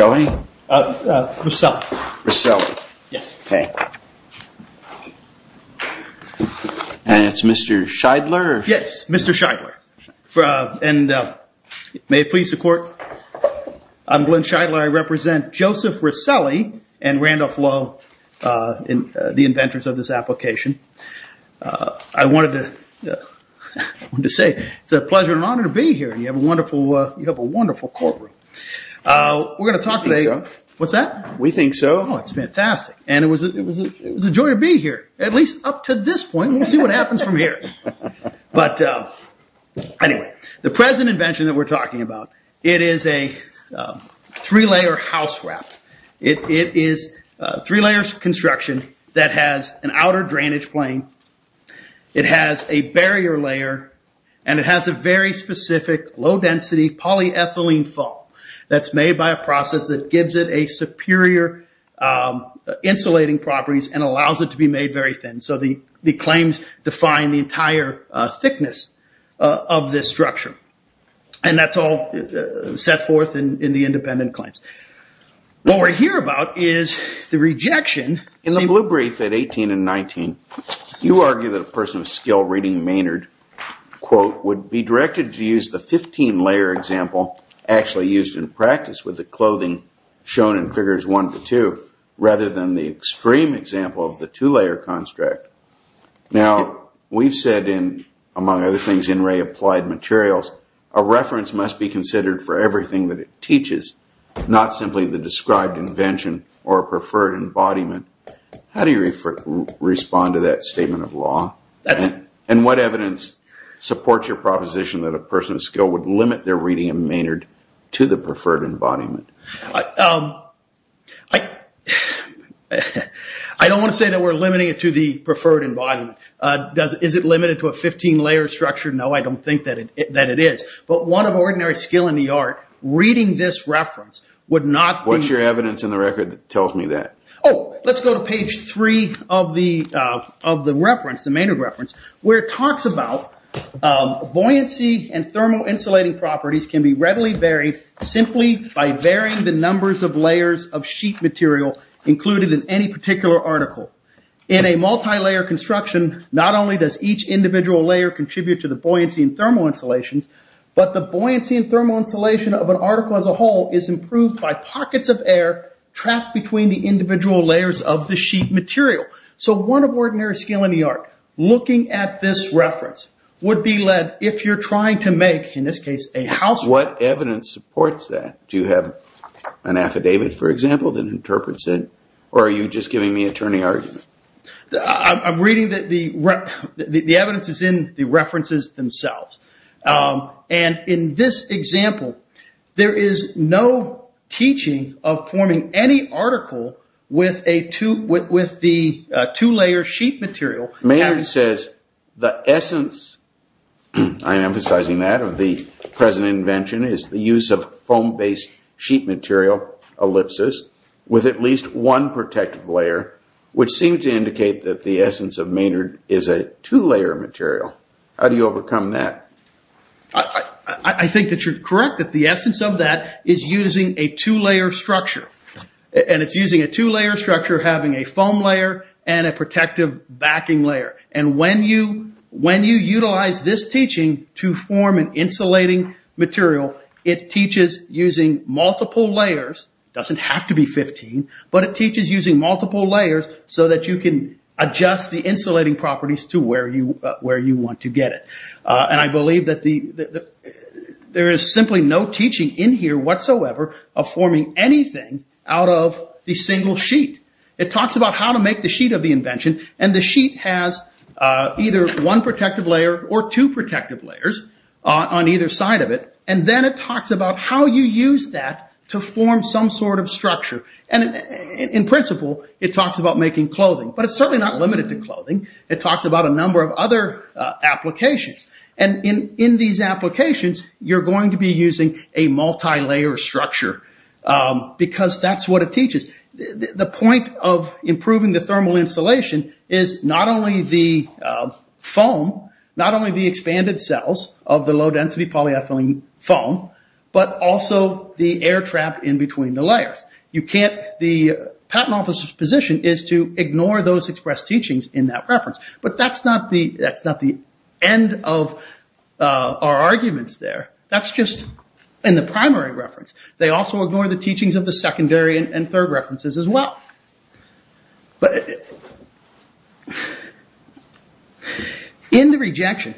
And it's Mr. Scheidler Yes, Mr. Scheidler, and may it please the court, I'm Glenn Scheidler, I represent Joseph Riccelli and Randolph Lowe, the inventors of this application. I wanted to say it's a pleasure and honor to be here, you have a wonderful courtroom. We're going to talk today, what's that? We think so. Oh, it's fantastic. And it was a joy to be here, at least up to this point, we'll see what happens from here. But anyway, the present invention that we're talking about, it is a three-layer house wrap. It is three-layers construction that has an outer drainage plane, it has a barrier layer, and it has a very specific low-density polyethylene foam that's made by a process that gives it a superior insulating properties and allows it to be made very thin. And so the claims define the entire thickness of this structure. And that's all set forth in the independent claims. What we're here about is the rejection In the blue brief at 18 and 19, you argue that a person of skill reading Maynard, quote, would be directed to use the 15-layer example actually used in practice with the clothing shown in figures one to two, rather than the extreme example of the two-layer construct. Now we've said in, among other things, in Ray Applied Materials, a reference must be considered for everything that it teaches, not simply the described invention or preferred embodiment. How do you respond to that statement of law? And what evidence supports your proposition that a person of skill would limit their reading of Maynard to the preferred embodiment? I don't want to say that we're limiting it to the preferred embodiment. Is it limited to a 15-layer structure? No, I don't think that it is. But one of ordinary skill in the art, reading this reference, would not be... What's your evidence in the record that tells me that? Oh, let's go to page three of the reference, the Maynard reference, where it talks about buoyancy and thermal insulating properties can be readily varied simply by varying the numbers of layers of sheet material included in any particular article. In a multi-layer construction, not only does each individual layer contribute to the buoyancy and thermal insulation, but the buoyancy and thermal insulation of an article as a whole is improved by pockets of air trapped between the individual layers of the sheet material. So one of ordinary skill in the art, looking at this reference, would be led, if you're trying to make, in this case, a house... What evidence supports that? Do you have an affidavit, for example, that interprets it? Or are you just giving me attorney arguments? I'm reading that the evidence is in the references themselves. And in this example, there is no teaching of forming any article with the two-layer sheet material. Maynard says the essence, I'm emphasizing that, of the present invention is the use of foam-based sheet material, ellipses, with at least one protective layer, which seems to indicate that the essence of Maynard is a two-layer material. How do you overcome that? I think that you're correct that the essence of that is using a two-layer structure. And it's using a two-layer structure having a foam layer and a protective backing layer. And when you utilize this teaching to form an insulating material, it teaches using multiple layers, doesn't have to be 15, but it teaches using multiple layers so that you can adjust the insulating properties to where you want to get it. And I believe that there is simply no teaching in here whatsoever of forming anything out of the single sheet. It talks about how to make the sheet of the invention, and the sheet has either one protective layer or two protective layers on either side of it. And then it talks about how you use that to form some sort of structure. And in principle, it talks about making clothing, but it's certainly not limited to clothing. It talks about a number of other applications. And in these applications, you're going to be using a multi-layer structure because that's what it teaches. The point of improving the thermal insulation is not only the foam, not only the expanded cells of the low-density polyethylene foam, but also the air trap in between the layers. The patent officer's position is to ignore those expressed teachings in that reference. But that's not the end of our arguments there. That's just in the primary reference. They also ignore the teachings of the secondary and third references as well. But in the rejection,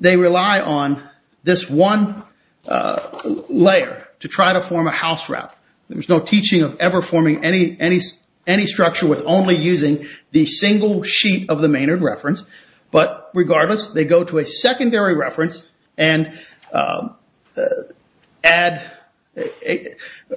they rely on this one layer to try to form a house wrap. There's no teaching of ever forming any structure with only using the single sheet of the Maynard reference. But regardless, they go to a secondary reference and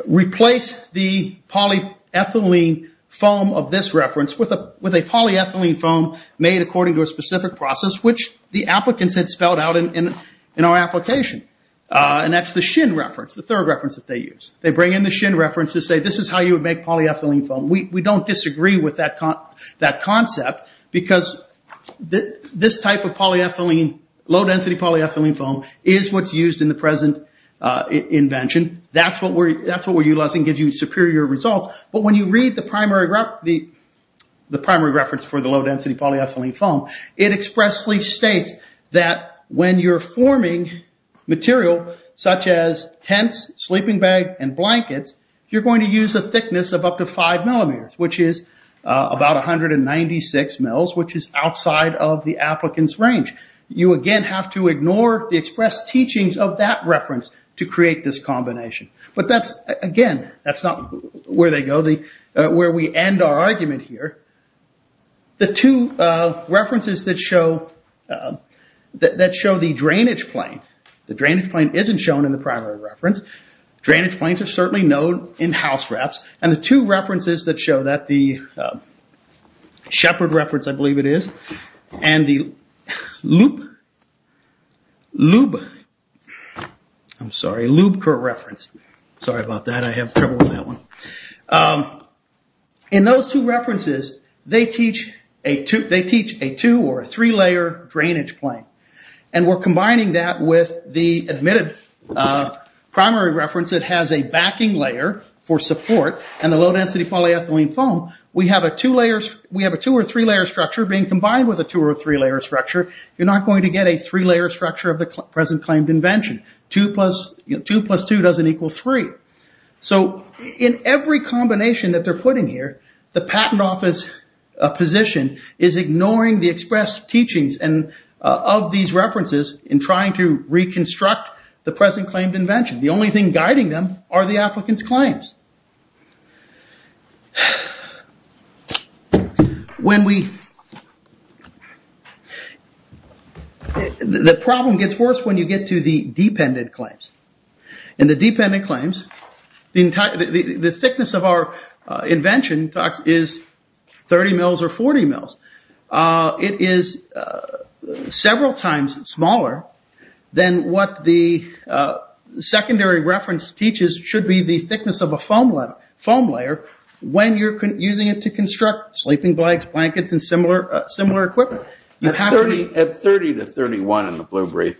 replace the polyethylene foam of this reference with a polyethylene foam made according to a specific process, which the applicants had spelled out in our application. And that's the Shin reference, the third reference that they use. They bring in the Shin reference to say, this is how you would make polyethylene foam. We don't disagree with that concept because this type of low-density polyethylene foam is what's used in the present invention. That's what we're utilizing to give you superior results. But when you read the primary reference for the low-density polyethylene foam, it expressly states that when you're forming material such as tents, sleeping bags, and blankets, you're which is about 196 mils, which is outside of the applicant's range. You again have to ignore the express teachings of that reference to create this combination. But that's, again, that's not where they go, where we end our argument here. The two references that show the drainage plane, the drainage plane isn't shown in the primary reference. Drainage planes are certainly known in house wraps. And the two references that show that, the Shepard reference, I believe it is, and the Lubeker reference, sorry about that, I have trouble with that one. In those two references, they teach a two or a three-layer drainage plane. And we're combining that with the admitted primary reference that has a backing layer for support and the low-density polyethylene foam. We have a two or three-layer structure being combined with a two or three-layer structure. You're not going to get a three-layer structure of the present claimed invention. Two plus two doesn't equal three. So in every combination that they're putting here, the patent office position is ignoring the express teachings of these references in trying to reconstruct the present claimed invention. The only thing guiding them are the applicant's claims. When we, the problem gets worse when you get to the dependent claims. In the dependent claims, the thickness of our invention is 30 mils or 40 mils. It is several times smaller than what the secondary reference teaches should be the thickness of a foam layer when you're using it to construct sleeping bags, blankets, and similar equipment. At 30 to 31 in the blue brief,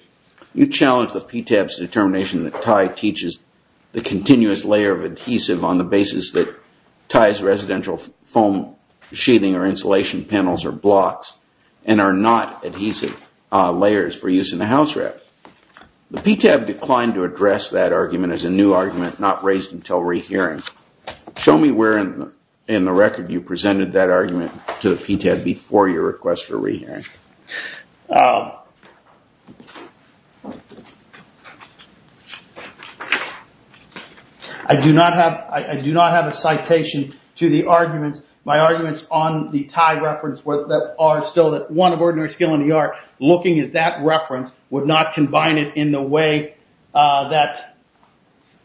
you challenge the PTAB's determination that Tye teaches the continuous layer of adhesive on the basis that Tye's residential foam sheathing or insulation panels are blocks and are not adhesive layers for use in a house wrap. The PTAB declined to address that argument as a new argument not raised until rehearing. Show me where in the record you presented that argument to the PTAB before your request for rehearing. I do not have a citation to the arguments. My arguments on the Tye reference that are still one of ordinary skill in the art, looking at that reference would not combine this in a way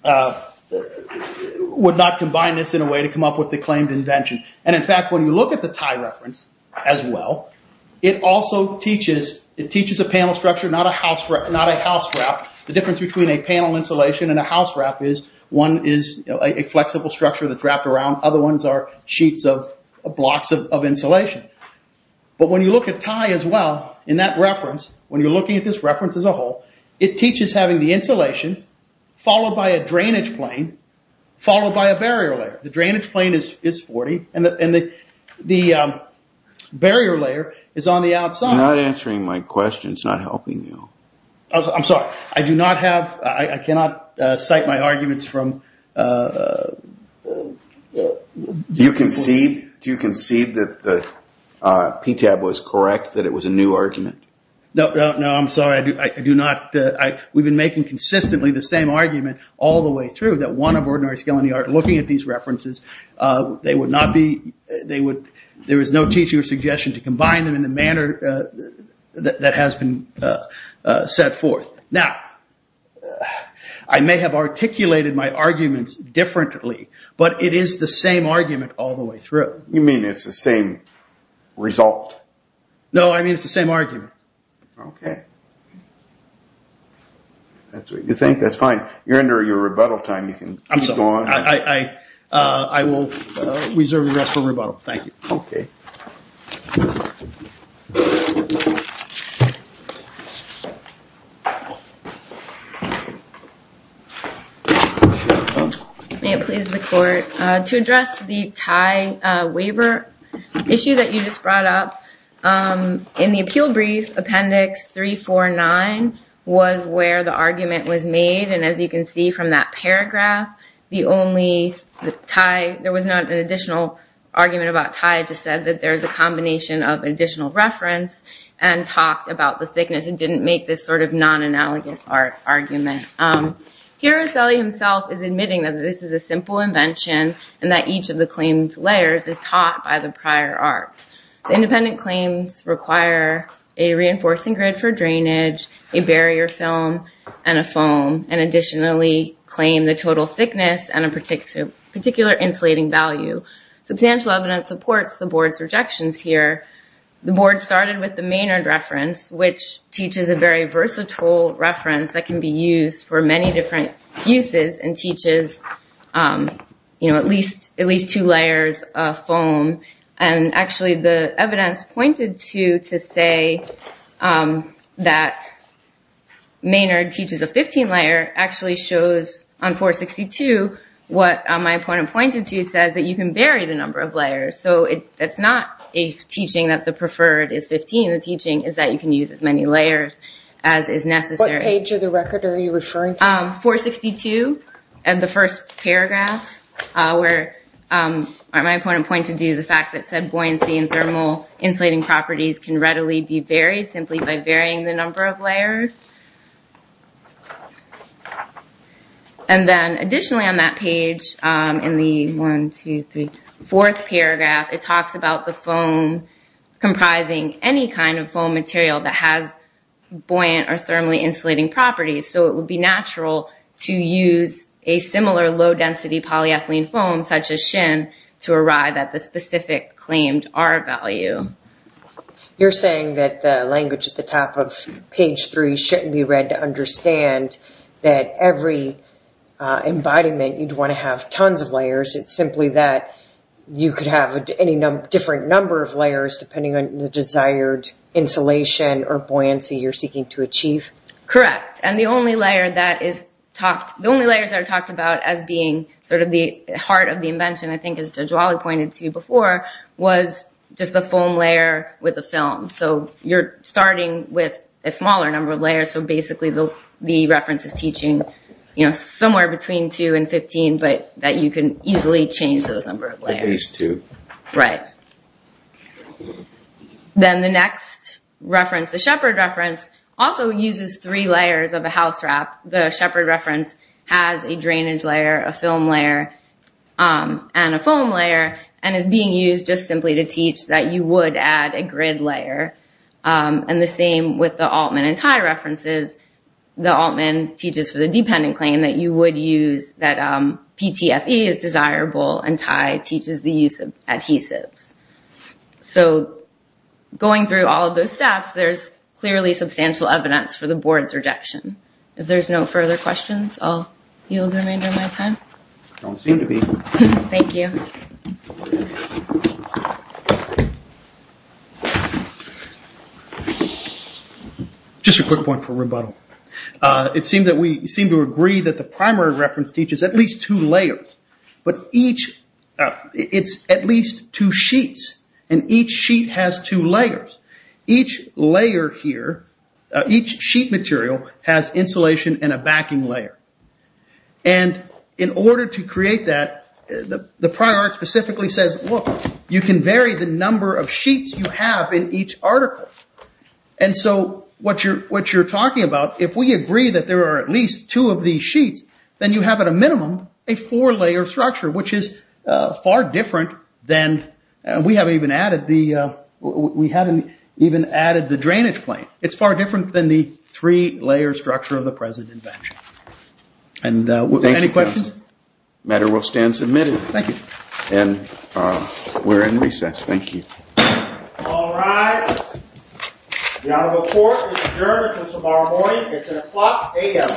to come up with the claimed invention. In fact, when you look at the Tye reference as well, it also teaches a panel structure, not a house wrap. The difference between a panel insulation and a house wrap is one is a flexible structure that's wrapped around, other ones are sheets of blocks of insulation. When you look at Tye as well, in that reference, when you're looking at this reference as a whole, it teaches having the insulation followed by a drainage plane, followed by a barrier layer. The drainage plane is 40, and the barrier layer is on the outside. You're not answering my question, it's not helping you. I'm sorry, I do not have, I cannot cite my arguments from... Do you concede that the PTAB was correct, that it was a new argument? No, no, I'm sorry, I do not. We've been making consistently the same argument all the way through, that one of ordinary skill in the art, looking at these references, they would not be, there is no teaching or suggestion to combine them in the manner that has been set forth. Now, I may have articulated my arguments differently, but it is the same argument all the way through. You mean it's the same result? No, I mean it's the same argument. Okay. That's what you think, that's fine. Now, you're under your rebuttal time, you can go on. I'm sorry, I will reserve the rest for rebuttal, thank you. Okay. May it please the court, to address the tie waiver issue that you just brought up, in the appeal brief, appendix 349, was where the argument was made, and as you can see from that paragraph, there was not an additional argument about tie, it just said that there is a combination of additional reference, and talked about the thickness, and didn't make this sort of non-analogous art argument. Hiroselli himself is admitting that this is a simple invention, and that each of the claims layers is taught by the prior art. The independent claims require a reinforcing grid for drainage, a barrier film, and a foam, and additionally claim the total thickness, and a particular insulating value. Substantial evidence supports the board's rejections here. The board started with the Maynard reference, which teaches a very versatile reference that can be used for many different uses, and teaches at least two layers of foam, and actually the evidence pointed to, to say that Maynard teaches a 15 layer, actually shows on 462, what my opponent pointed to, says that you can vary the number of layers, so it's not a teaching that the preferred is 15, the teaching is that you can use as many layers as is necessary. What page of the record are you referring to? 462, and the first paragraph, where my opponent pointed to the fact that said buoyancy and thermal insulating properties can readily be varied simply by varying the number of layers. And then additionally on that page, in the one, two, three, fourth paragraph, it talks about the foam comprising any kind of foam material that has buoyant or thermally insulating properties, so it would be natural to use a similar low-density polyethylene foam, such as shin, to arrive at the specific claimed R value. You're saying that the language at the top of page three shouldn't be read to understand that every embodiment, you'd want to have tons of layers, it's simply that you could have any different number of layers depending on the desired insulation or buoyancy you're seeking to achieve? Correct, and the only layer that is talked, the only layers that are talked about as being sort of the heart of the invention, I think as Judge Wally pointed to before, was just the foam layer with the film, so you're starting with a smaller number of layers, so basically the reference is teaching somewhere between two and 15, but that you can easily change those number of layers. At least two. Right. Then the next reference, the Shepard reference, also uses three layers of a house wrap. The Shepard reference has a drainage layer, a film layer, and a foam layer, and is being used just simply to teach that you would add a grid layer, and the same with the Altman and Tai references. The Altman teaches for the dependent claim that you would use, that PTFE is desirable, and Tai teaches the use of adhesives. Going through all of those steps, there's clearly substantial evidence for the board's rejection. If there's no further questions, I'll yield the remainder of my time. Don't seem to be. Thank you. Just a quick point for rebuttal. It seemed that we seemed to agree that the primary reference teaches at least two layers, but each, it's at least two sheets, and each sheet has two layers. Each layer here, each sheet material, has insulation and a backing layer, and in order to create that, the prior art specifically says, look, you can vary the number of sheets you have in each article, and so what you're talking about, if we agree that there are at least two of these sheets, then you have at a minimum a four-layer structure, which is far different than, we haven't even added the drainage plane. It's far different than the three-layer structure of the present invention. Any questions? Thank you, counsel. The matter will stand submitted. Thank you. We're in recess. Thank you. All rise. The honorable court is adjourned until tomorrow morning. It's at o'clock a.m.